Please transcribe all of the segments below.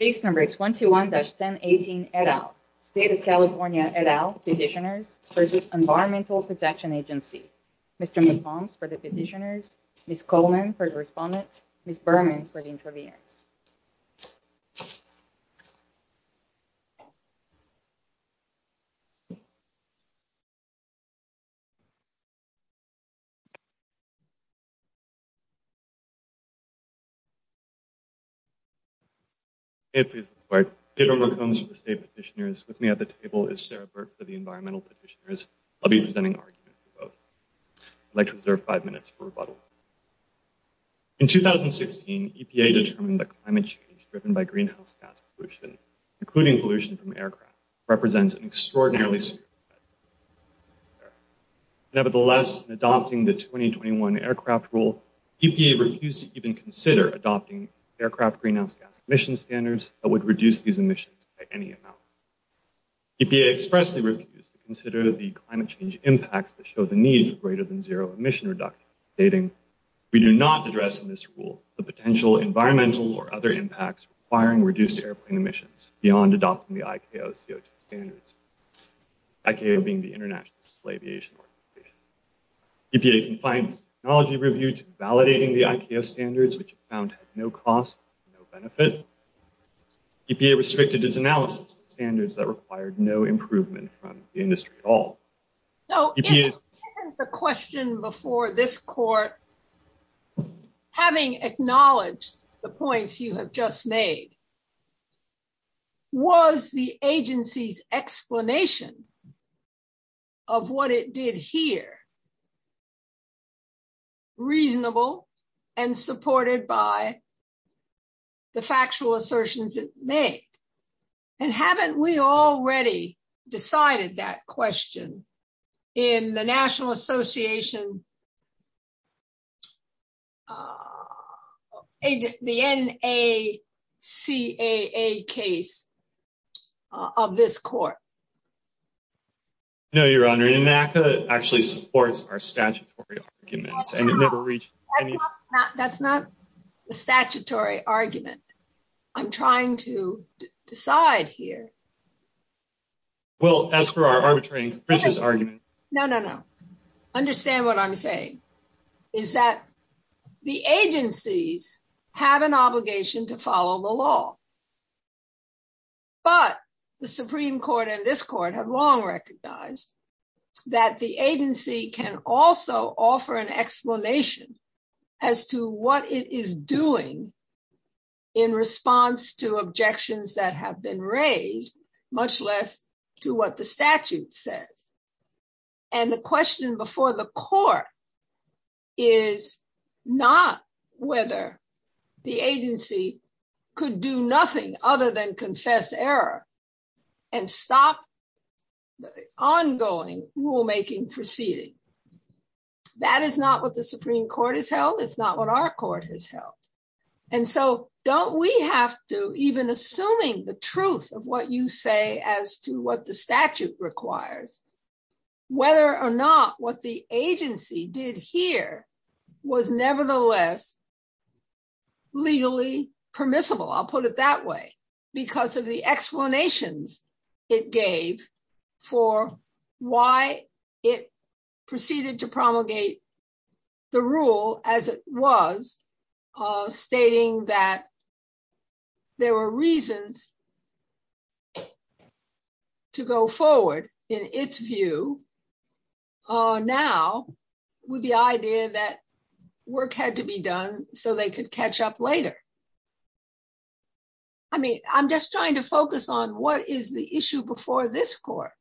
Case number 21-1018 et al. State of California et al. Petitioners v. Environmental Protection Agency. Mr. McFarland for the petitioners, Ms. Coleman for the respondents, Ms. Berman for the interviewees. Hey, please look forward. Pedro McCombs for the state petitioners. With me at the table is Sarah Burt for the environmental petitioners. I'll be presenting arguments for both. I'd like to reserve five minutes for rebuttal. In 2016, EPA determined that climate change driven by greenhouse gas pollution, including pollution from aircraft, represents an extraordinarily severe threat. Nevertheless, adopting the 2021 aircraft rule, EPA refused to even consider adopting aircraft greenhouse gas emission standards that would reduce these emissions by any amount. EPA expressly refused to consider the climate change impacts that show the need for greater than zero emission reduction, stating, We do not address in this rule the potential environmental or other impacts requiring reduced airplane emissions beyond adopting the ICAO CO2 standards. ICAO being the International Aviation Organization. EPA confined its technology review to validating the ICAO standards, which it found had no cost, no benefit. EPA restricted its analysis to standards that required no improvement from the industry at all. So the question before this court, having acknowledged the points you have just made, was the agency's explanation of what it did here reasonable and supported by the factual assertions it made? And haven't we already decided that question in the National Association, the NACAA case of this court? No, Your Honor. NACAA actually supports our statutory arguments. That's not a statutory argument. I'm trying to decide here. Well, as for our arbitrary and capricious argument. No, no, no. Understand what I'm saying is that the agencies have an obligation to follow the law. But the Supreme Court and this court have long recognized that the agency can also offer an explanation as to what it is doing in response to objections that have been raised, much less to what the statute says. And the question before the court is not whether the agency could do nothing other than confess error and stop the ongoing rulemaking proceeding. That is not what the Supreme Court has held. It's not what our court has held. And so don't we have to, even assuming the truth of what you say as to what the statute requires, whether or not what the agency did here was nevertheless legally permissible. I'll put it that way, because of the explanations it gave for why it proceeded to promulgate the rule as it was, stating that there were reasons to go forward in its view now with the idea that work had to be done so they could catch up later. I mean, I'm just trying to focus on what is the issue before this court.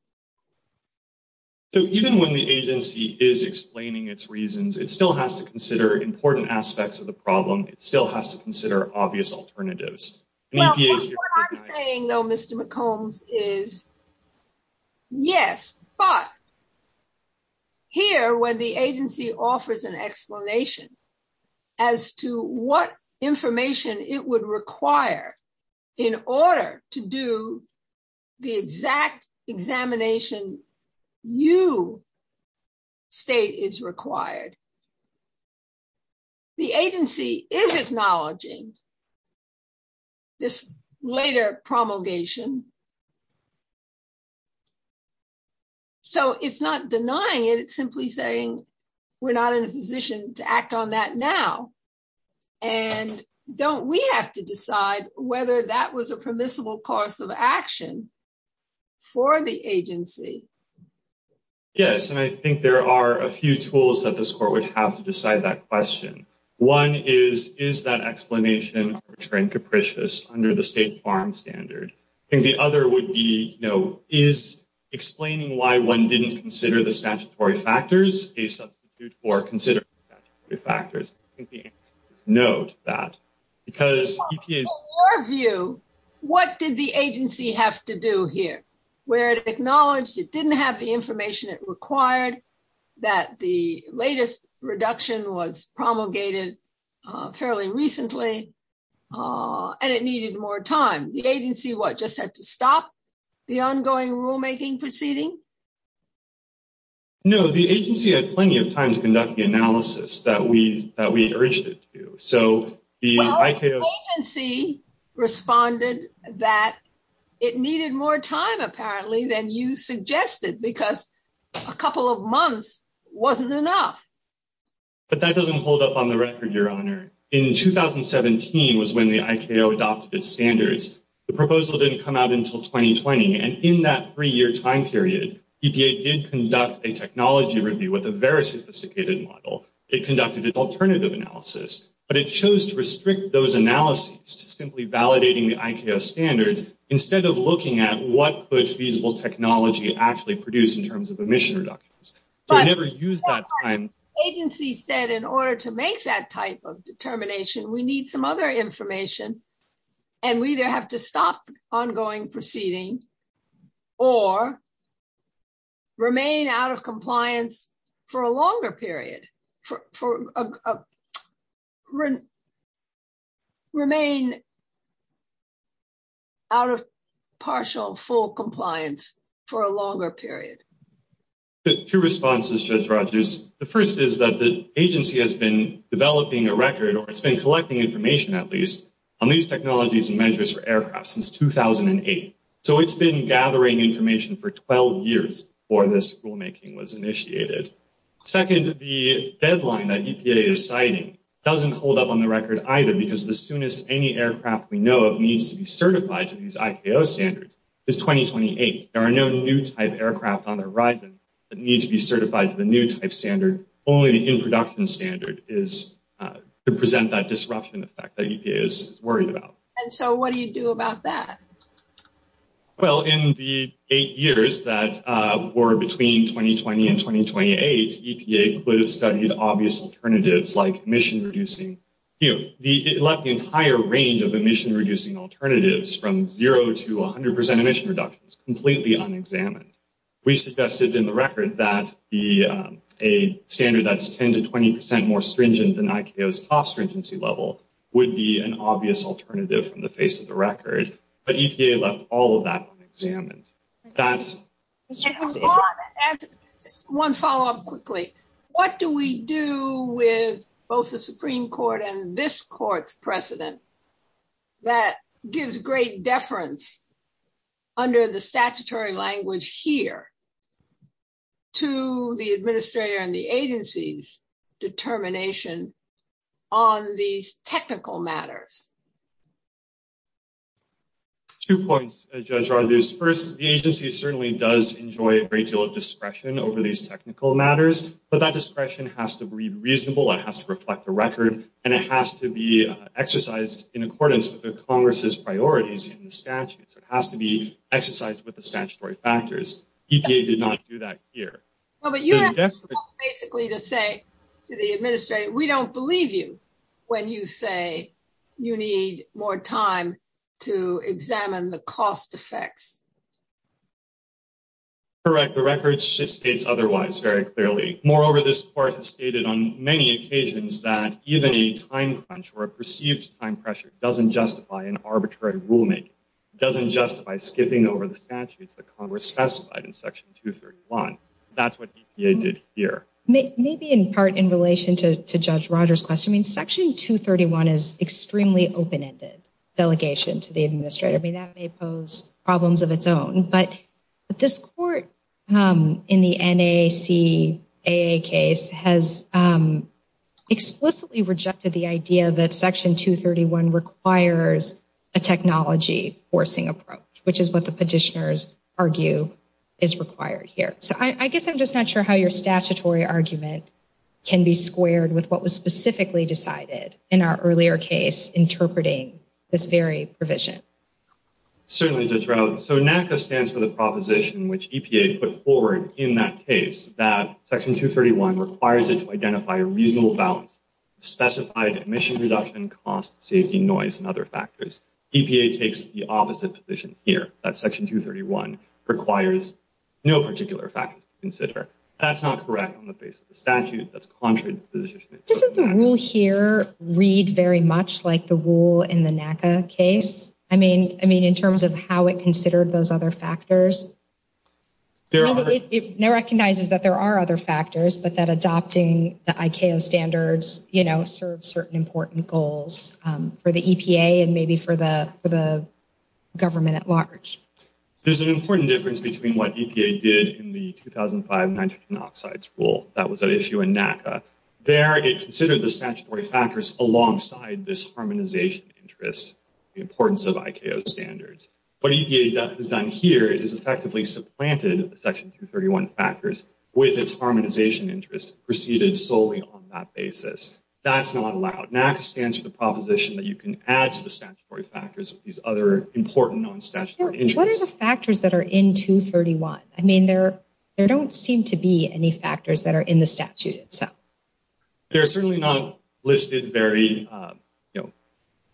So even when the agency is explaining its reasons, it still has to consider important aspects of the problem. It still has to consider obvious alternatives. What I'm saying, though, Mr. McCombs, is yes, but here when the agency offers an explanation as to what information it would require in order to do the exact examination you state is required. The agency is acknowledging this later promulgation. So it's not denying it, it's simply saying we're not in a position to act on that now. And don't we have to decide whether that was a permissible course of action for the agency. Yes, and I think there are a few tools that this court would have to decide that question. One is, is that explanation of return capricious under the state farm standard? I think the other would be, you know, is explaining why one didn't consider the statutory factors a substitute for considering the statutory factors? I think the answer is no to that. In your view, what did the agency have to do here? Where it acknowledged it didn't have the information it required, that the latest reduction was promulgated fairly recently, and it needed more time. The agency, what, just had to stop the ongoing rulemaking proceeding? No, the agency had plenty of time to conduct the analysis that we urged it to. Well, the agency responded that it needed more time, apparently, than you suggested, because a couple of months wasn't enough. But that doesn't hold up on the record, Your Honor. In 2017 was when the ICAO adopted its standards. The proposal didn't come out until 2020, and in that three-year time period, EPA did conduct a technology review with a very sophisticated model. It conducted its alternative analysis, but it chose to restrict those analyses to simply validating the ICAO standards instead of looking at what could feasible technology actually produce in terms of emission reductions. But the agency said, in order to make that type of determination, we need some other information, and we either have to stop ongoing proceeding or remain out of partial full compliance for a longer period. Two responses, Judge Rogers. The first is that the agency has been developing a record, or it's been collecting information, at least, on these technologies and measures for aircraft since 2008. So it's been gathering information for 12 years before this rulemaking was initiated. Second, the deadline that EPA is citing doesn't hold up on the record either, because the soonest any aircraft we know of needs to be certified to these ICAO standards is 2028. There are no new-type aircraft on the horizon that need to be certified to the new-type standard. Only the in-production standard is to present that disruption effect that EPA is worried about. And so what do you do about that? Well, in the eight years that were between 2020 and 2028, EPA could have studied obvious alternatives like emission-reducing. It left the entire range of emission-reducing alternatives from zero to 100 percent emission reductions completely unexamined. We suggested in the record that a standard that's 10 to 20 percent more stringent than ICAO's top stringency level would be an obvious alternative from the face of the record. EPA left all of that unexamined. One follow-up quickly. What do we do with both the Supreme Court and this court's precedent that gives great deference under the statutory language here to the administrator and the agency's determination on these technical matters? Two points, Judge Rodgers. First, the agency certainly does enjoy a great deal of discretion over these technical matters. But that discretion has to be reasonable. It has to reflect the record. And it has to be exercised in accordance with the Congress's priorities in the statute. So it has to be exercised with the statutory factors. EPA did not do that here. Well, but you have basically to say to the administrator, we don't believe you when you say you need more time to examine the cost effects. Correct. The record states otherwise very clearly. Moreover, this court has stated on many occasions that even a time crunch or a perceived time pressure doesn't justify an arbitrary rulemaking. It doesn't justify skipping over the statutes that Congress specified in Section 231. That's what EPA did here. Maybe in part in relation to Judge Rodgers' question, Section 231 is extremely open-ended delegation to the administrator. That may pose problems of its own. But this court in the NAACAA case has explicitly rejected the idea that Section 231 requires a technology forcing approach, which is what the petitioners argue is required here. So I guess I'm just not sure how your statutory argument can be squared with what was specifically decided in our earlier case interpreting this very provision. Certainly, Judge Rowley. So NAACAA stands for the proposition which EPA put forward in that case that Section 231 requires it to identify a reasonable balance, specified emission reduction, cost, safety, noise, and other factors. EPA takes the opposite position here, that Section 231 requires no particular factors to consider. That's not correct on the basis of the statute. That's contrary to the position it took in that case. Doesn't the rule here read very much like the rule in the NAACAA case? I mean, in terms of how it considered those other factors? It recognizes that there are other factors, but that adopting the ICAO standards serves certain important goals for the EPA and maybe for the government at large. There's an important difference between what EPA did in the 2005 nitrogen oxides rule. That was at issue in NAACAA. There, it considered the statutory factors alongside this harmonization interest, the importance of ICAO standards. What EPA has done here is effectively supplanted Section 231 factors with its harmonization interest preceded solely on that basis. That's not allowed. NAACAA stands for the proposition that you can add to the statutory factors with these other important known statutory interests. What are the factors that are in 231? I mean, there don't seem to be any factors that are in the statute itself. They're certainly not listed very, you know,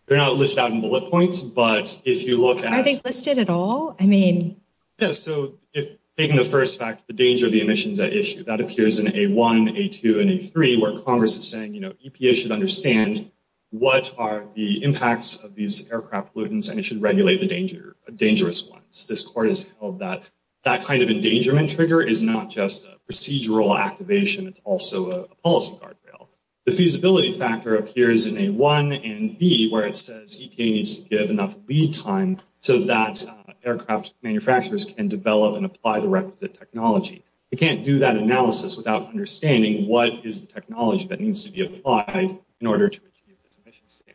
they're not listed out in bullet points, but if you look at... Are they listed at all? I mean... Yeah, so if taking the first fact, the danger of the emissions at issue, that appears in A1, A2, and A3 where Congress is saying, you know, EPA should understand what are the impacts of these aircraft pollutants and it should regulate the danger, dangerous ones. This court has held that that kind of endangerment trigger is not just procedural activation, it's also a policy guardrail. The feasibility factor appears in A1 and B where it says EPA needs to give enough lead time so that aircraft manufacturers can develop and apply the requisite technology. It can't do that analysis without understanding what is the technology that needs to be applied in order to achieve this emission standard.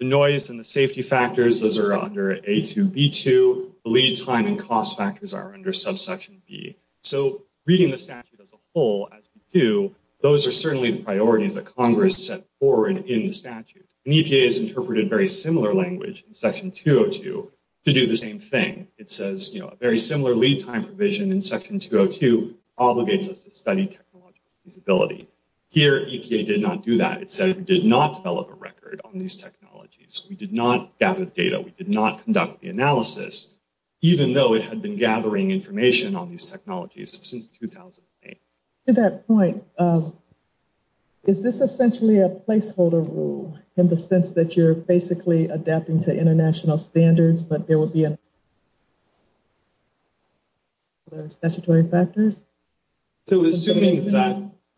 The noise and the safety factors, those are under A2, B2. The lead time and cost factors are under subsection B. So reading the statute as a whole, as we do, those are certainly the priorities that Congress set forward in the statute. And EPA has interpreted very similar language in section 202 to do the same thing. It says, you know, a very similar lead time provision in section 202 obligates us to study technological feasibility. Here, EPA did not do that. It said we did not develop a record on these technologies. We did not gather the data. We did not conduct the analysis, even though it had been gathering information on these technologies since 2008. To that point, is this essentially a placeholder rule in the sense that you're basically adapting to international standards but there would be other statutory factors?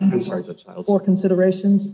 I'm sorry, Judge Childs. Or considerations?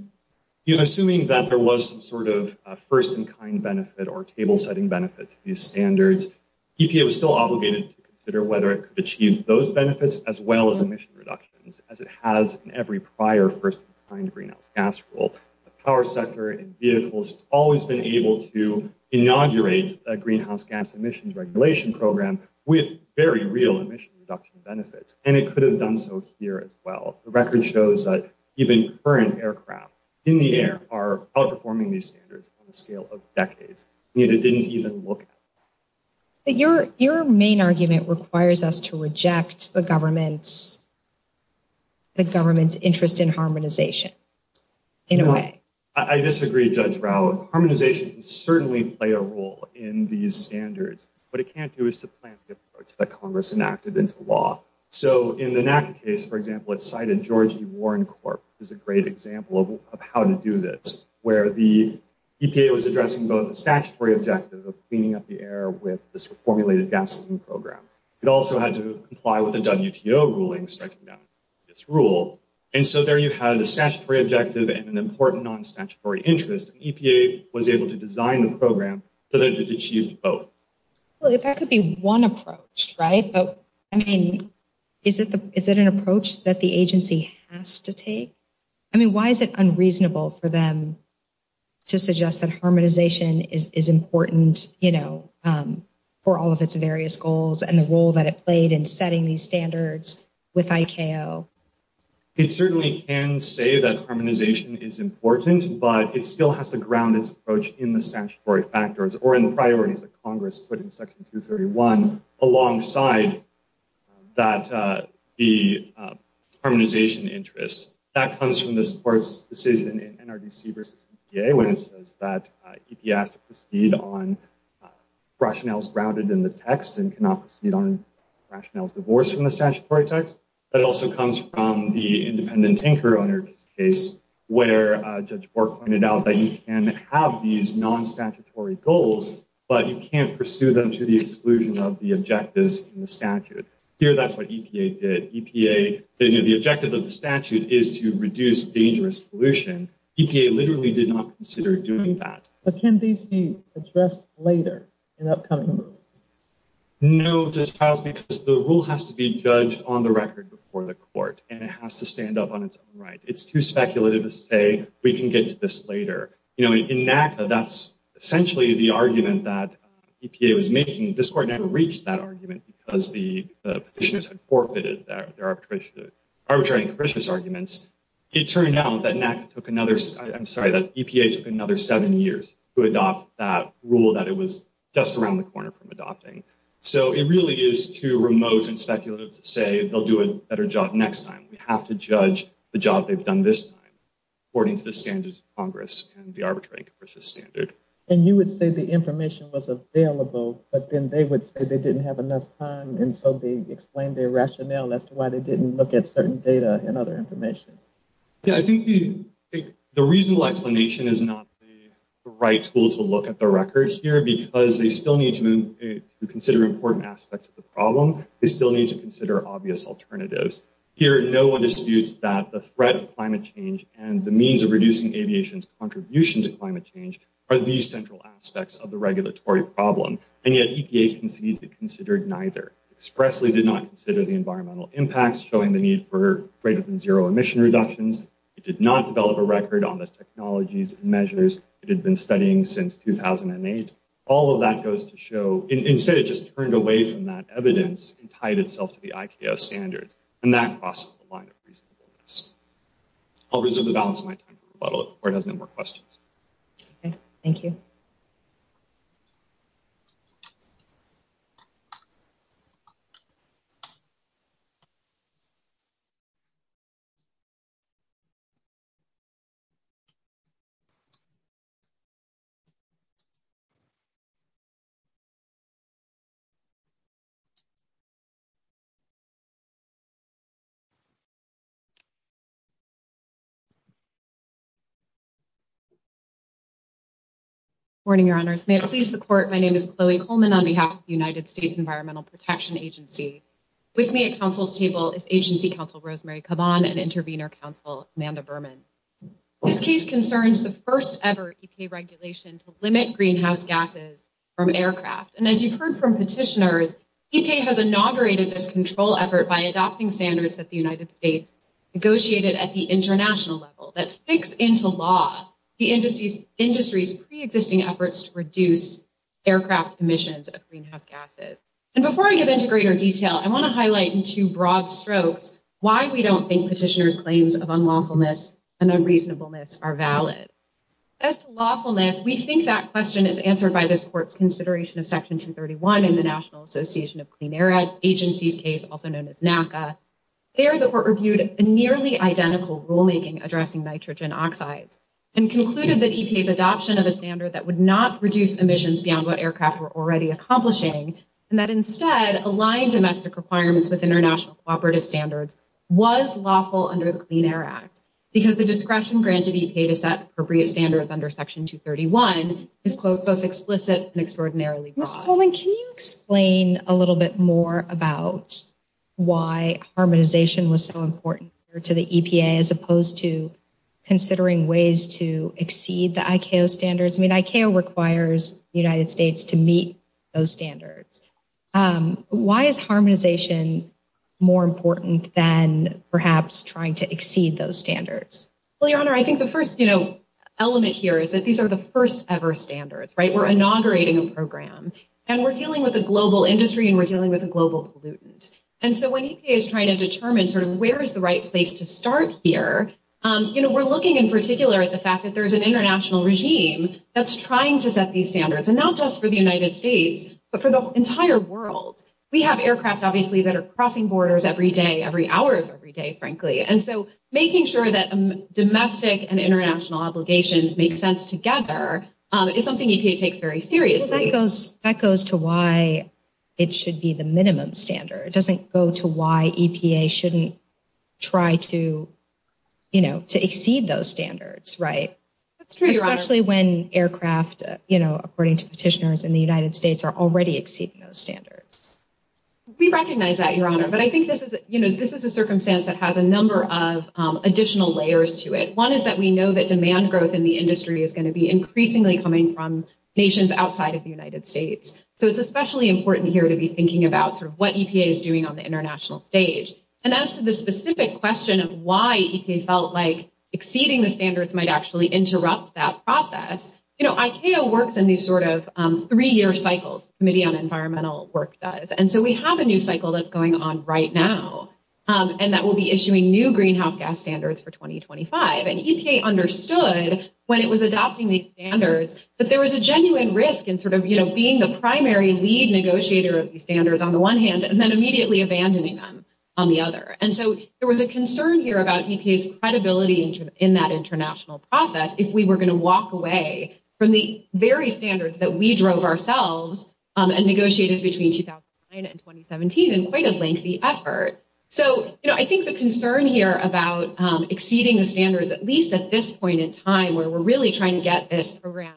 Assuming that there was some sort of first-in-kind benefit or table-setting benefit to these standards, EPA was still obligated to consider whether it could achieve those benefits as well as emission reductions, as it has in every prior first-in-kind greenhouse gas rule. The power sector and vehicles have always been able to inaugurate a greenhouse gas emissions regulation program with very real emission reduction benefits. They could have done so here as well. The record shows that even current aircraft in the air are outperforming these standards on a scale of decades. And yet it didn't even look at that. Your main argument requires us to reject the government's interest in harmonization in a way. I disagree, Judge Rao. Harmonization can certainly play a role in these standards. What it can't do is to plant the approach that Congress enacted into law. In the NACA case, for example, it cited George E. Warren Corp., which is a great example of how to do this, where the EPA was addressing both the statutory objective of cleaning up the air with this formulated gas emission program. It also had to comply with the WTO ruling striking down this rule. And so there you had a statutory objective and an important non-statutory interest. EPA was able to design the program so that it achieved both. That could be one approach, right? I mean, is it an approach that the agency has to take? I mean, why is it unreasonable for them to suggest that harmonization is important, you know, for all of its various goals and the role that it played in setting these standards with ICAO? It certainly can say that harmonization is important, but it still has to ground its approach in the statutory factors or in the priorities that Congress put in Section 231 alongside the harmonization interest. That comes from this court's decision in NRDC v. EPA, when it says that EPA has to proceed on rationales grounded in the text and cannot proceed on rationales divorced from the statutory text. But it also comes from the independent anchor owner case, where Judge Bork pointed out that you can have these non-statutory goals, but you can't pursue them to the exclusion of the objectives in the statute. Here, that's what EPA did. The objective of the statute is to reduce dangerous pollution. EPA literally did not consider doing that. But can these be addressed later in upcoming rules? No, Judge Childs, because the rule has to be judged on the record before the court, and it has to stand up on its own right. It's too speculative to say, we can get to this later. In NACA, that's essentially the argument that EPA was making. This court never reached that argument because the petitioners had forfeited their arbitrary and capricious arguments. It turned out that EPA took another seven years to adopt that rule that it was just around the corner from adopting. So it really is too remote and speculative to say, they'll do a better job next time. We have to judge the job they've done this time, according to the standards of Congress and the arbitrary and capricious standard. And you would say the information was available, but then they would say they didn't have enough time, and so they explained their rationale as to why they didn't look at certain data and other information. Yeah, I think the reasonable explanation is not the right tool to look at the records here, because they still need to consider important aspects of the problem. They still need to consider obvious alternatives. No one disputes that the threat of climate change and the means of reducing aviation's contribution to climate change are the central aspects of the regulatory problem. And yet EPA concedes it considered neither. It expressly did not consider the environmental impacts, showing the need for greater than zero emission reductions. It did not develop a record on the technologies and measures it had been studying since 2008. All of that goes to show, instead it just turned away from that evidence and tied itself to the ICAO standards. And that crosses the line of reasonableness. I'll reserve the balance of my time for rebuttal before it has any more questions. Okay, thank you. Good morning, Your Honors. May it please the Court, my name is Chloe Coleman on behalf of the United States Environmental Protection Agency. With me at counsel's table is Agency Counsel Rosemary Caban and Intervenor Counsel Amanda Berman. This case concerns the first-ever EPA regulation to limit greenhouse gases from aircraft. And as you've heard from petitioners, EPA has inaugurated this control effort by adopting a new regulation, the Greenhouse Gas Emission Reduction Standards that the United States negotiated at the international level that fits into law the industry's pre-existing efforts to reduce aircraft emissions of greenhouse gases. And before I get into greater detail, I want to highlight in two broad strokes why we don't think petitioners' claims of unlawfulness and unreasonableness are valid. As to lawfulness, we think that question is answered by this Court's consideration of Section 231 describing the National Association of Clean Air Agencies case, also known as NACA. There, the Court reviewed a nearly identical rulemaking addressing nitrogen oxides and concluded that EPA's adoption of a standard that would not reduce emissions beyond what aircraft were already accomplishing and that instead, aligned domestic requirements with international cooperative standards was lawful under the Clean Air Act because the discretion granted EPA to set appropriate standards under Section 231 is both explicit and extraordinarily broad. Ms. Coleman, can you explain a little bit more about why harmonization was so important to the EPA as opposed to considering ways to exceed the ICAO standards? I mean, ICAO requires the United States to meet those standards. Why is harmonization more important than perhaps trying to exceed those standards? Well, Your Honor, I think the first, you know, element here is that these are the first ever standards, right? We're inaugurating a program and we're dealing with a global industry and we're dealing with a global pollutant. And so when EPA is trying to determine sort of where is the right place to start here, you know, we're looking in particular at the fact that there's an international regime that's trying to set these standards, and not just for the United States, but for the entire world. We have aircraft, obviously, that are crossing borders every day, every hour of every day, frankly. And so making sure that domestic and international obligations make sense together is something EPA takes very seriously. That goes to why it should be the minimum standard. It doesn't go to why EPA shouldn't try to, you know, to exceed those standards, right? Especially when aircraft, you know, according to petitioners in the United States We recognize that, Your Honor. But I think this is, you know, this is a circumstance that has a number of additional layers to it. One is that we know that demand growth in the industry is going to be increasingly coming from nations outside of the United States. So it's especially important here to be thinking about sort of what EPA is doing on the international stage. And as to the specific question of why EPA felt like exceeding the standards might actually interrupt that process, you know, ICAO works in these sort of three-year cycles, Committee on Environmental Work does. And so we have a new cycle that's going on right now. And that will be issuing new greenhouse gas standards for 2025. And EPA understood when it was adopting these standards that there was a genuine risk in sort of, you know, being the primary lead negotiator of these standards on the one hand and then immediately abandoning them on the other. And so there was a concern here about EPA's credibility in that international process if we were going to walk away from the very standards that we drove ourselves and negotiated between 2009 and 2017 in quite a lengthy effort. So, you know, I think the concern here about exceeding the standards at least at this point in time, where we're really trying to get this program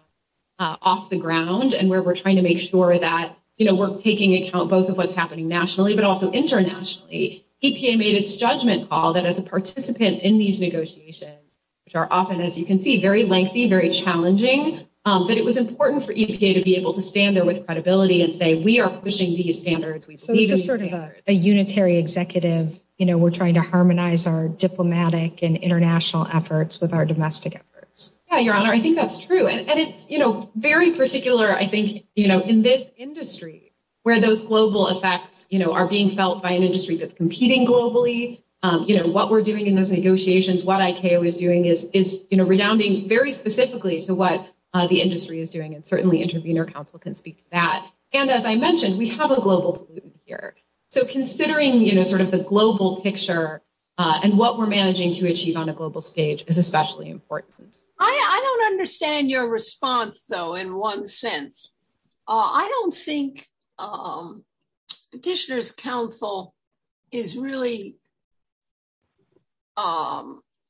off the ground and where we're trying to make sure that, you know, we're taking account both of what's happening nationally, but also internationally. EPA made its judgment call that as a participant in these negotiations, which are often, as you can see, very lengthy, very challenging, that it was important for EPA to be able to stand there with credibility and say, we are pushing these standards. So this is sort of a unitary executive, you know, we're trying to harmonize our diplomatic and international efforts with our domestic efforts. Yeah, Your Honor, I think that's true. And it's, you know, very particular, I think, you know, in this industry where those global effects, you know, are being felt by an industry that's competing globally. You know, what we're doing in those negotiations, what ICAO is doing is, you know, redounding very specifically to what the industry is doing. And certainly Intervenor Council can speak to that. And as I mentioned, we have a global pollutant here. So considering, you know, sort of the global picture and what we're managing to achieve on a global stage is especially important. I don't understand your response, though, in one sense. I don't think Petitioner's Council is really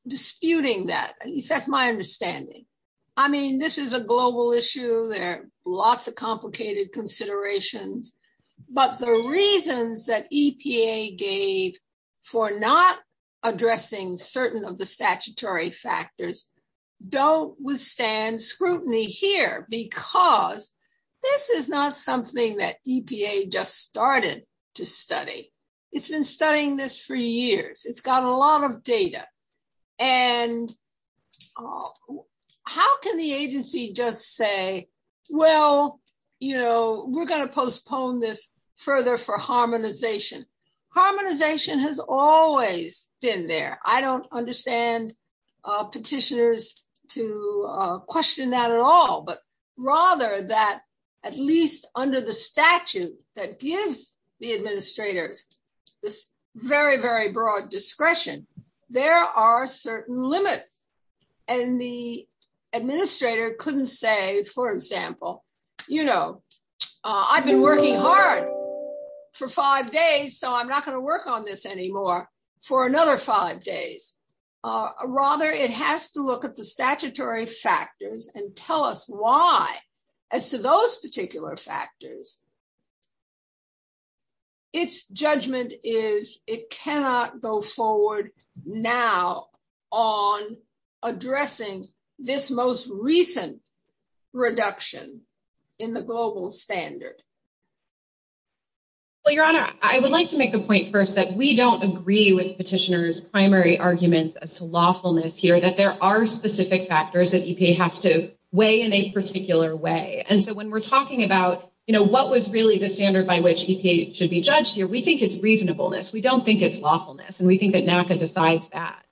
disputing that. At least that's my understanding. I mean, this is a global issue. There are lots of complicated considerations. But the reasons that EPA gave for not addressing certain of the statutory factors don't withstand scrutiny here because this is not something that EPA just started to study. It's been studying this for years. It's got a lot of data. And how can the agency just say, well, you know, we're going to postpone this further for harmonization. Harmonization has always been there. I don't understand petitioners to question that at all, but rather that at least under the statute that gives the administrators this very, very broad discretion. There are certain limits. And the administrator couldn't say, for example, you know, I've been working hard for five days, so I'm not going to work on this anymore for another five days. Rather, it has to look at the statutory factors and tell us why. As to those particular factors, its judgment is it cannot go forward now on addressing this most recent reduction in the global standard. Well, Your Honor, I would like to make the point first that we don't agree with petitioners primary arguments as to lawfulness here, that there are specific factors that EPA has to weigh in a particular way. And so when we're talking about, you know, what was really the standard by which EPA should be judged here, we think it's reasonableness. We don't think it's lawfulness. And we think that NACA decides that.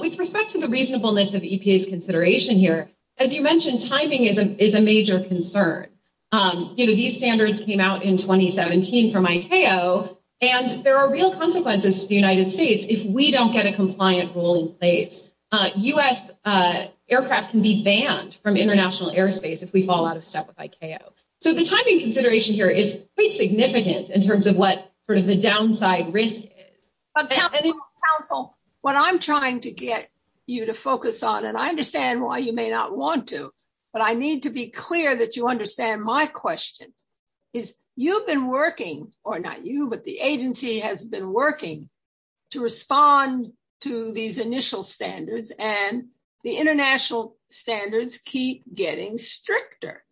With respect to the reasonableness of EPA's consideration here, as you mentioned, timing is a major concern. You know, these standards came out in 2017 from ICAO, and there are real consequences to the United States if we don't get a compliant rule in place. U.S. aircraft can be banned from international airspace if we fall out of step with ICAO. So the timing consideration here is quite significant in terms of what sort of the downside risk is. But counsel, what I'm trying to get you to focus on, and I understand why you may not want to, but I need to be clear that you understand my question, is you've been working, or not you, but the agency has been working to respond to these initial standards, and the international standards keep getting stricter.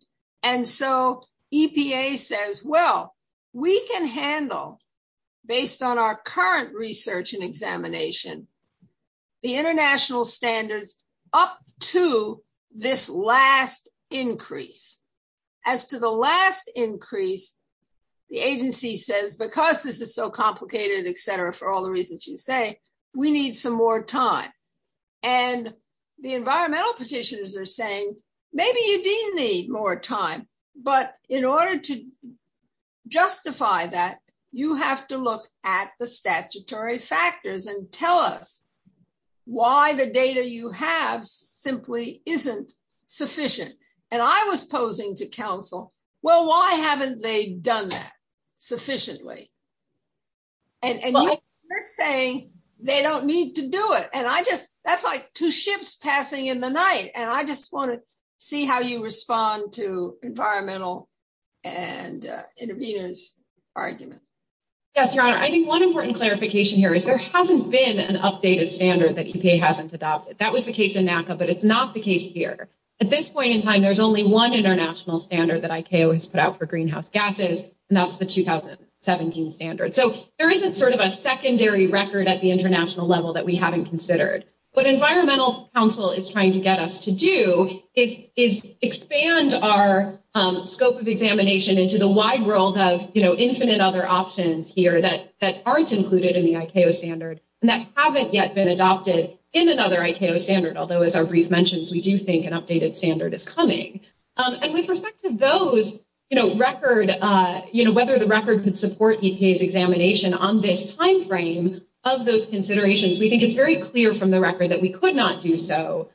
And so EPA says, well, we can handle, based on our current research and examination, the international standards up to this last increase. As to the last increase, the agency says, because this is so complicated, et cetera, for all the reasons you say, we need some more time. And the environmental petitioners are saying, maybe you do need more time, but in order to justify that, you have to look at the statutory factors and tell us why the data you have simply isn't sufficient. And I was posing to counsel, well, why haven't they done that sufficiently? And you're saying they don't need to do it. And I just, that's like two ships passing in the night, and I just want to see how you respond to environmental and intervenors argument. Yes, Your Honor, I think one important clarification here is there hasn't been an updated standard that EPA hasn't adopted. That was the case in NACA, but it's not the case here. At this point in time, there's only one international standard that ICAO has put out for greenhouse gases, and that's the 2017 standard. So there isn't sort of a secondary record at the international level that we haven't considered. What environmental counsel is trying to get us to do is expand our scope of examination into the wide world of infinite other options here that aren't included in the ICAO standard and that haven't yet been adopted in another ICAO standard, although as our brief mentions, we do think an updated standard is coming. And with respect to those record, whether the record could support EPA's examination on this timeframe of those considerations, we think it's very clear from the record that we could not do so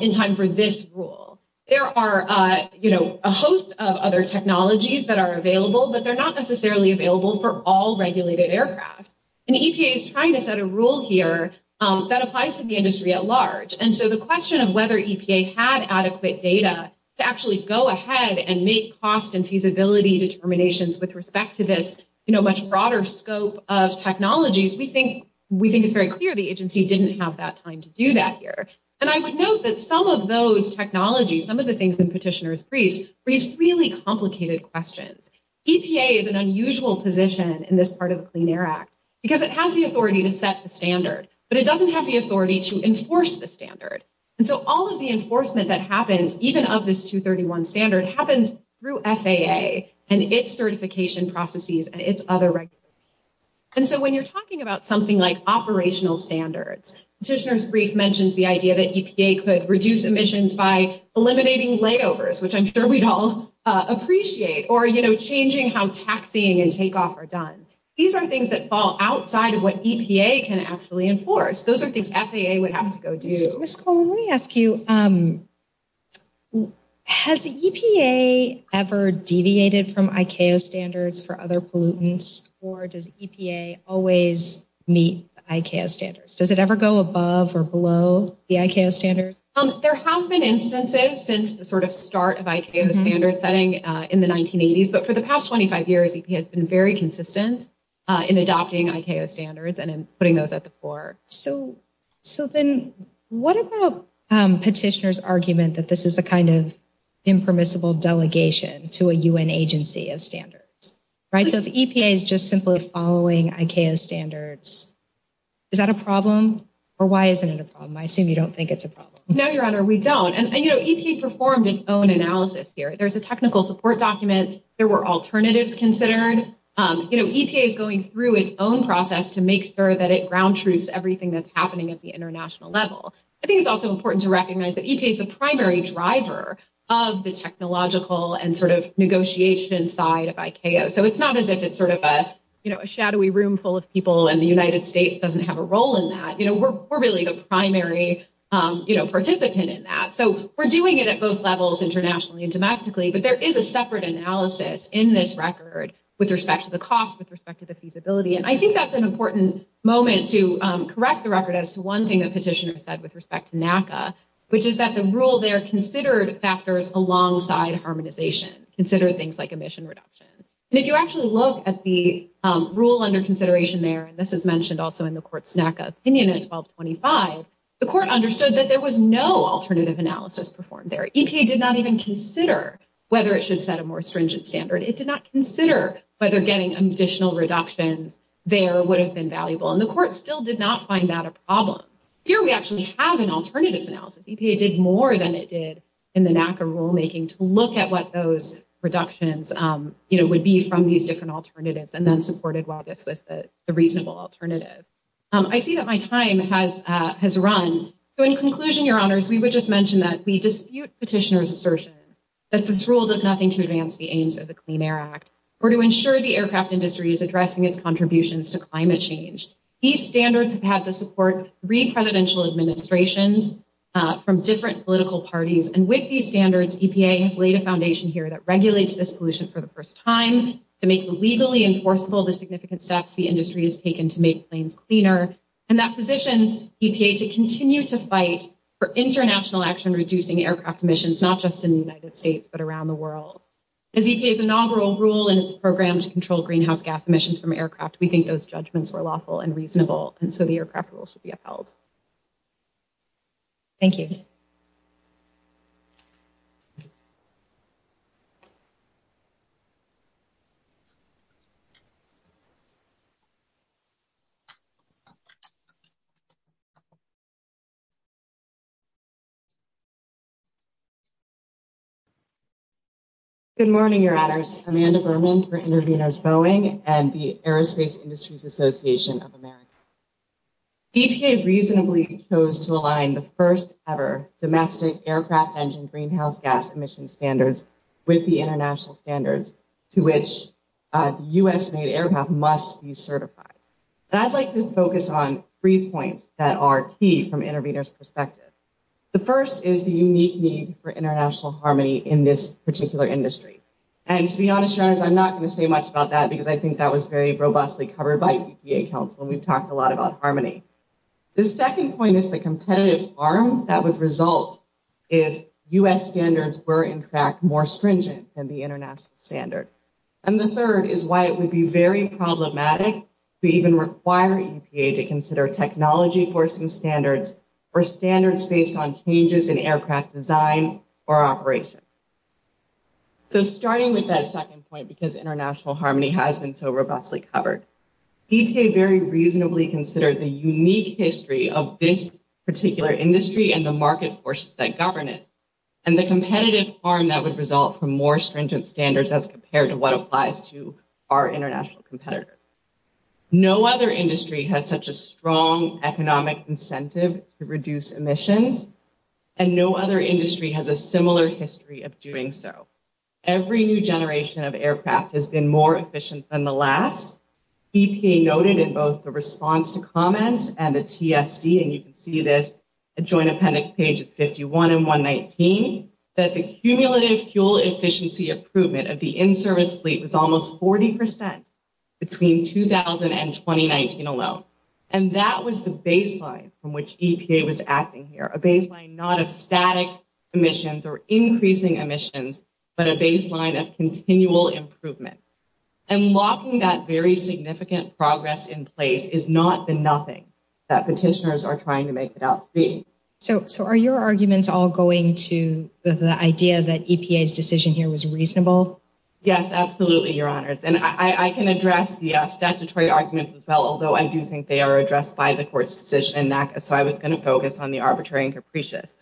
in time for this rule. There are a host of other technologies that are available, but they're not necessarily available for all regulated aircraft. And EPA is trying to set a rule here that applies to the industry at large. And so the question of whether EPA had adequate data to actually go ahead and make cost and feasibility determinations with respect to this much broader scope of technologies, we think it's very clear the agency didn't have that time to do that here. And I would note that some of those technologies, some of the things in Petitioner's Briefs, raise really complicated questions. EPA is an unusual position in this part of the Clean Air Act because it has the authority to set the standard, but it doesn't have the authority to enforce the standard. And so all of the enforcement that happens, even of this 231 standard, happens through FAA and its certification processes and its other regulators. And so when you're talking about something like operational standards, Petitioner's Brief mentions the idea that EPA could reduce emissions by eliminating layovers, which I'm sure we'd all appreciate, or changing how taxing and takeoff are done. These are things that fall outside of what EPA can actually enforce. Those are things FAA would have to go do. Ms. Coleman, let me ask you, has EPA ever deviated from ICAO standards for other pollutants, or does EPA always meet ICAO standards? Does it ever go above or below the ICAO standards? There have been instances since the sort of start of ICAO standard setting in the 1980s, but for the past 25 years, EPA has been very consistent in adopting ICAO standards and in putting those at the fore. So then what about Petitioner's argument that this is a kind of impermissible delegation to a UN agency of standards? So if EPA is just simply following ICAO standards, is that a problem? Or why isn't it a problem? I assume you don't think it's a problem. No, Your Honor, we don't. EPA performed its own analysis here. There's a technical support document. There were alternatives considered. EPA is going through its own process to make sure that it ground truths everything that's happening at the international level. I think it's also important to recognize that EPA is the primary driver of this sort of thing. So it's not as if it's sort of a shadowy room full of people and the United States doesn't have a role in that. We're really the primary participant in that. So we're doing it at both levels internationally and domestically, but there is a separate analysis in this record with respect to the cost, with respect to the feasibility. And I think that's an important moment to correct the record as to one thing that Petitioner said with respect to NACA, which is that the rule there considered factors alongside harmonization. Consider things like emission reduction. And if you actually look at the rule under consideration there, and this is mentioned also in the court's NACA opinion at 1225, the court understood that there was no alternative analysis performed there. EPA did not even consider whether it should set a more stringent standard. It did not consider whether getting additional reductions there would have been valuable. And the court still did not find that a problem. Here we actually have an alternatives analysis. that was highlighted in the NACA rulemaking to look at what those reductions would be from these different alternatives and then supported while this was the reasonable alternative. I see that my time has run. So in conclusion, Your Honors, we would just mention that we dispute Petitioner's assertion that this rule does nothing to advance the aims of the Clean Air Act or to ensure the aircraft industry is addressing its contributions to climate change. These standards have had the support of EPA for decades, and with these standards, EPA has laid a foundation here that regulates this pollution for the first time to make legally enforceable the significant steps the industry has taken to make planes cleaner, and that positions EPA to continue to fight for international action reducing aircraft emissions, not just in the United States, but around the world. As EPA's inaugural rule and its program to control greenhouse gas emissions from aircraft, I would like to introduce Amanda Berman. Good morning, Your Honors. Amanda Berman for Interveners Boeing and the Aerospace Industries Association of America. Today, I'd like to focus on three points that are key from Interveners' perspective. The first is the unique need for international harmony in this particular industry. And to be honest, Your Honors, I'm not going to say much about that because I think that was very robustly covered by EPA counsel, and we've talked a lot about harmony. The second point is the competitive arm that would result if the international economy and U.S. standards were, in fact, more stringent than the international standard. And the third is why it would be very problematic to even require EPA to consider technology forcing standards or standards based on changes in aircraft design or operation. So starting with that second point, because international harmony has been so robustly covered, EPA very reasonably considered the unique history of this particular industry and the market and the competitive arm that would result from more stringent standards as compared to what applies to our international competitors. No other industry has such a strong economic incentive to reduce emissions, and no other industry has a similar history of doing so. Every new generation of aircraft has been more efficient than the last. EPA noted in both the response to comments and the TSD, and you can see this at Joint Appendix Pages 51 and 119, that the cumulative fuel efficiency improvement of the in-service fleet was almost 40 percent between 2000 and 2019 alone. And that was the baseline from which EPA was acting here, a baseline not of static emissions or increasing emissions, but a baseline of continual improvement. And locking that very significant progress in place is not the thing that petitioners are trying to make it out to be. So are your arguments all going to the idea that EPA's decision here was reasonable? Yes, absolutely, Your Honors. And I can address the statutory arguments as well, although I do think they are addressed by the court's decision and so I was going to focus on the arbitrary and capricious.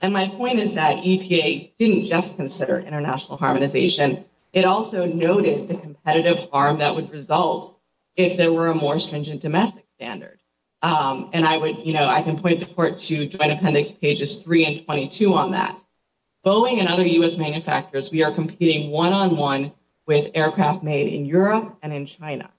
And my point is that EPA didn't just consider international harmonization. It also noted the competitive arm that would result if there were a more stringent domestic standard. And I would, you know, I can point the court to Joint Appendix Pages 3 and 22 on that. Boeing and other U.S. manufacturers, we are competing one-on-one with aircraft made in Europe and in China.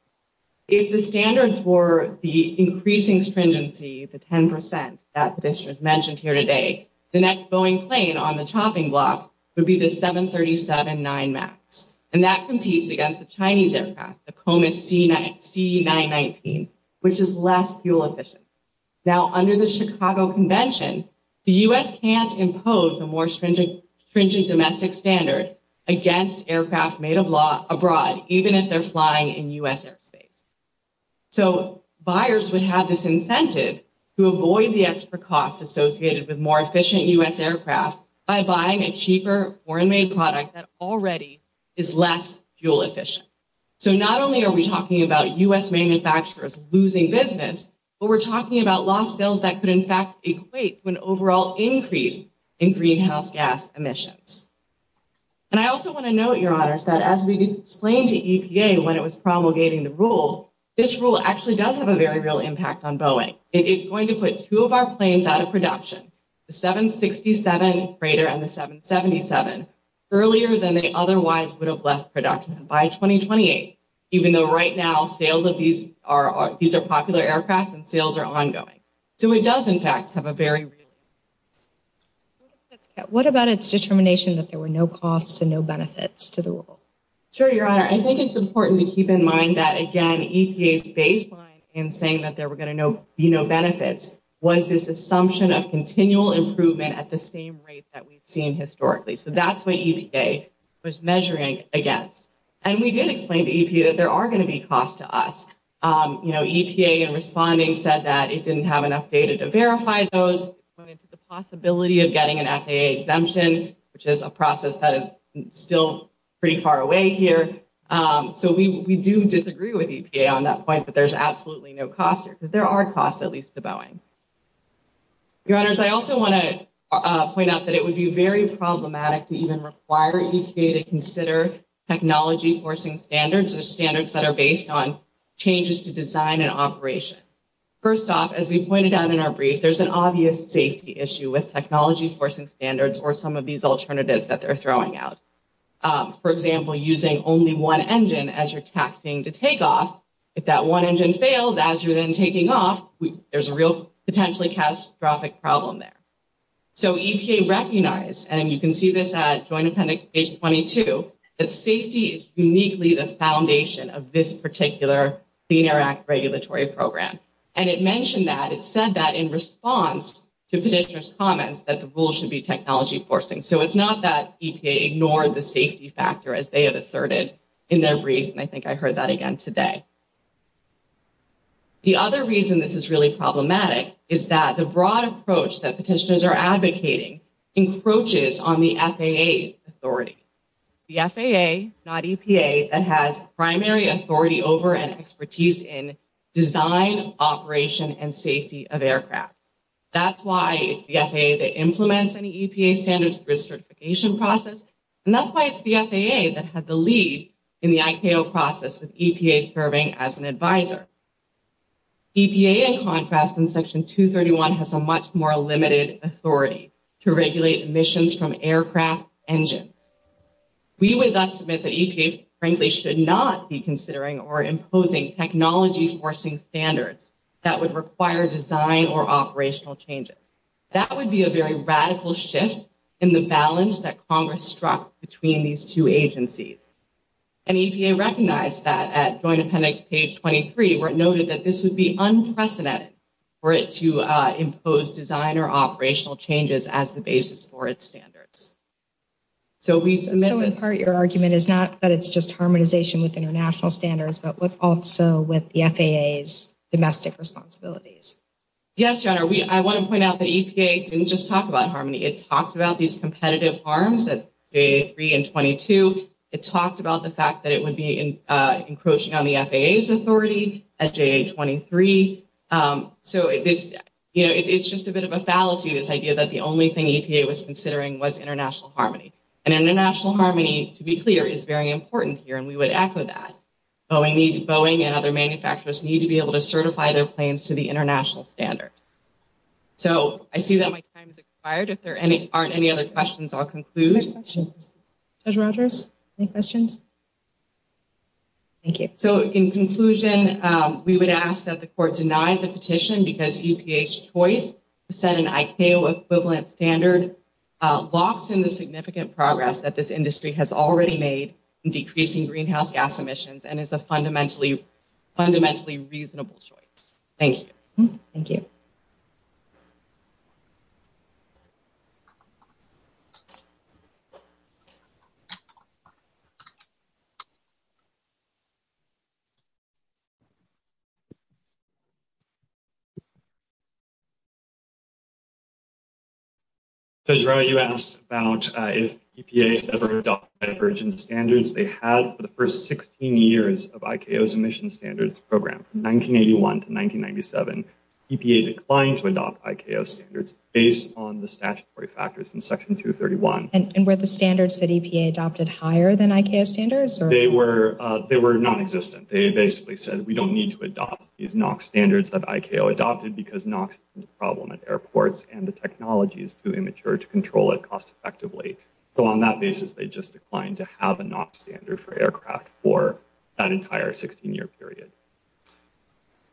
If the standards were the increasing stringency, the 10 percent that petitioners mentioned here today, the next Boeing plane on the chopping block would be the 737-9 MAX. And that competes against the Chinese aircraft, the Comus C-919, which is less fuel efficient. Now, under the Chicago Convention, the U.S. can't impose a more stringent domestic standard against aircraft made abroad, even if they're flying in U.S. airspace. So buyers would have this incentive to avoid the extra costs associated with more efficient U.S. a cheaper foreign-made product that already is less fuel efficient. So not only are we talking about U.S. manufacturers losing business, but we're talking about lost sales that could in fact equate to an overall increase in greenhouse gas emissions. And I also want to note, Your Honors, that as we explained to EPA when it was promulgating the rule, this rule actually does have a very real impact on Boeing. It's going to put two of our planes out of production, the 767 freighter and the 777, earlier than they otherwise would have left production by 2028, even though right now sales of these are popular aircraft and sales are ongoing. So it does in fact have a very real impact. What about its determination that there were no costs and no benefits to the rule? Sure, Your Honor. I think it's important to keep in mind that, again, EPA's baseline in saying that there were going to be no benefits was this assumption of continual improvement at the same rate that we've seen historically. So that's what EPA was measuring against. And we did explain to EPA that there are going to be costs to us. You know, EPA in responding said that it didn't have enough data to verify those. The possibility of getting an FAA exemption, which is a process that is still pretty far away here. So we do disagree with EPA on that point, but there's absolutely no costs because there are costs, at least to Boeing. Your Honors, I also want to point out that it would be very problematic to even require EPA to consider technology forcing standards or standards that are based on changes to design and operation. First off, as we pointed out in our brief, there's an obvious safety issue with technology forcing standards or some of these alternatives that they're throwing out. For example, using only one engine as you're taxing to take off. If that one engine fails as you're then taking off, there's a real potentially catastrophic problem there. So EPA recognized, and you can see this at Joint Appendix page 22, that safety is uniquely the foundation of this particular Clean Air Act regulatory program. And it mentioned that, it said that in response to petitioners' comments that the rule should be technology forcing. So it's not that EPA ignored the safety factor as they have asserted in their brief, and I think I heard that again today. The other reason this is really problematic is that the broad approach that petitioners are advocating encroaches on the FAA's authority. The FAA, not EPA, that has primary authority over and expertise in design, operation, and safety of aircraft. That's why it's the FAA that implements any EPA standards risk certification process, and that's why it's the FAA that had the lead in the ICAO process with EPA serving as an advisor. EPA, in contrast, in Section 231, has a much more limited authority to regulate emissions from aircraft engines. We would thus submit that EPA, frankly, should not be considering or imposing technology forcing standards that would require design or operational changes. That would be a very radical shift in the balance that Congress struck between these two agencies, and EPA recognized that at Joint Appendix Page 23 where it noted that this would be unprecedented for it to impose design or operational changes as the basis for its standards. So in part, your argument is not that it's just harmonization with international standards, but also with the FAA's domestic responsibilities. Yes, Your Honor. I want to point out that EPA didn't just talk about harmony. It talked about these competitive harms at JA-3 and 22. It talked about the fact that it would be encroaching on the FAA's authority at JA-23. So it's just a bit of a fallacy, this idea that the only thing EPA was considering was international harmony. And international harmony, to be clear, is very important here, and we would echo that. Boeing and other manufacturers need to be able to certify their planes to the international standard. So I see that my time has expired. If there aren't any other questions, I'll conclude. Any questions? Judge Rogers, any questions? Thank you. So in conclusion, we would ask that the Court deny the petition because EPA's choice to set an ICAO equivalent standard locks in the significant progress that this industry has already made in decreasing greenhouse gas emissions and is a fundamentally reasonable choice. Thank you. Thank you. Judge Rowe, you asked about if EPA had ever adopted a divergence from the standards they had for the first 16 years of ICAO's emission standards program. From 1981 to 1997, EPA declined to adopt ICAO standards based on the statutory factors in Section 231. And were the standards that EPA adopted higher than ICAO standards? They were nonexistent. They basically said we don't need to adopt these NOx standards that ICAO adopted because NOx is a problem at airports and the technology is too immature to control it cost effectively. So on that basis they just declined to have a NOx standard for aircraft for that entire 16-year period.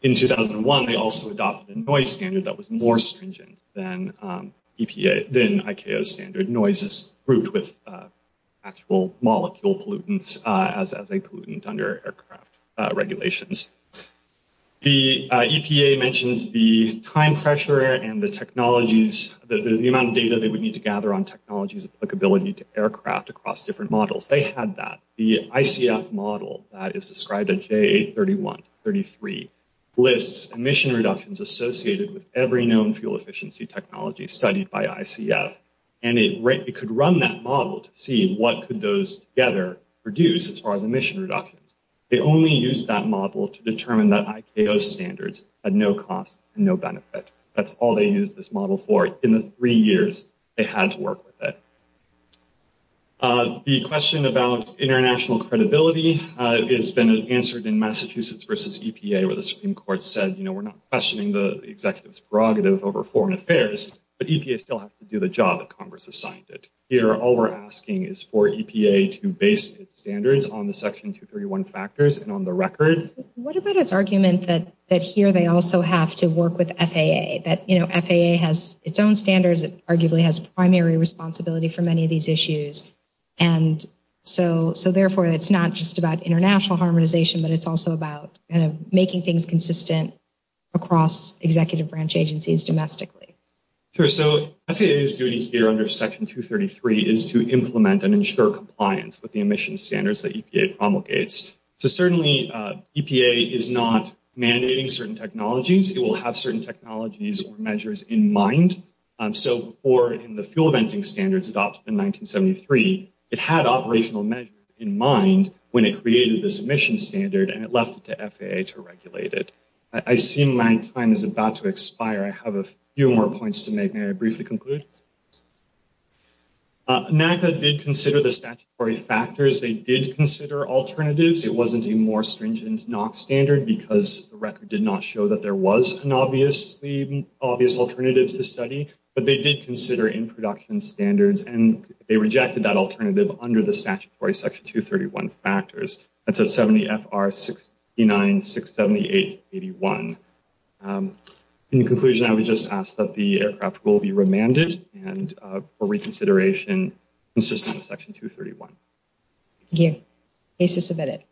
In 2001, they also adopted a NOx standard that was more stringent than EPA, than ICAO's standard NOx's route with actual molecule pollutants as a pollutant under aircraft regulations. The EPA mentions the time pressure and the technologies, the amount of data they would need to gather on the technology's applicability to aircraft across different models. They had that. The ICF model that is described in J8-31-33 lists emission reductions associated with every known fuel efficiency technology studied by ICF and it could run that model to see what could those together produce as far as emission reductions. They only used that model to determine that ICAO standards had no cost and no benefit. That's all they used this model for in the three years they had to work with it. The question about international credibility has been answered in Massachusetts versus EPA where the Supreme Court said we're not questioning the executive's prerogative over foreign affairs, but EPA still has to do the job that Congress assigned it. Here, all we're asking is for EPA to base its standards on the Section 231 factors and on the record. What about its argument that here they also have to work with FAA? That FAA has its own standards because it arguably has primary responsibility for many of these issues. Therefore, it's not just about international harmonization, but it's also about making things consistent across executive branch agencies domestically. FAA's duty here under Section 233 is to implement and ensure compliance with the emission standards that EPA promulgates. Certainly, EPA is not mandating certain technologies. It will have certain technologies or measures in mind. So, before in the fuel venting standards adopted in 1973, it had operational measures in mind when it created this emission standard and it left it to FAA to regulate it. I see my time is about to expire. I have a few more points to make. May I briefly conclude? NACDA did consider the statutory factors. They did consider alternatives. It wasn't a more stringent NOx standard because the record did not show that there was an obvious alternative to study, but they did consider in-production standards and they rejected that alternative under the statutory Section 231 factors. That's at 70 FR 69 678 81. In conclusion, I would just ask that the aircraft will be remanded and for reconsideration consistent with Section 231. Thank you. Case is submitted.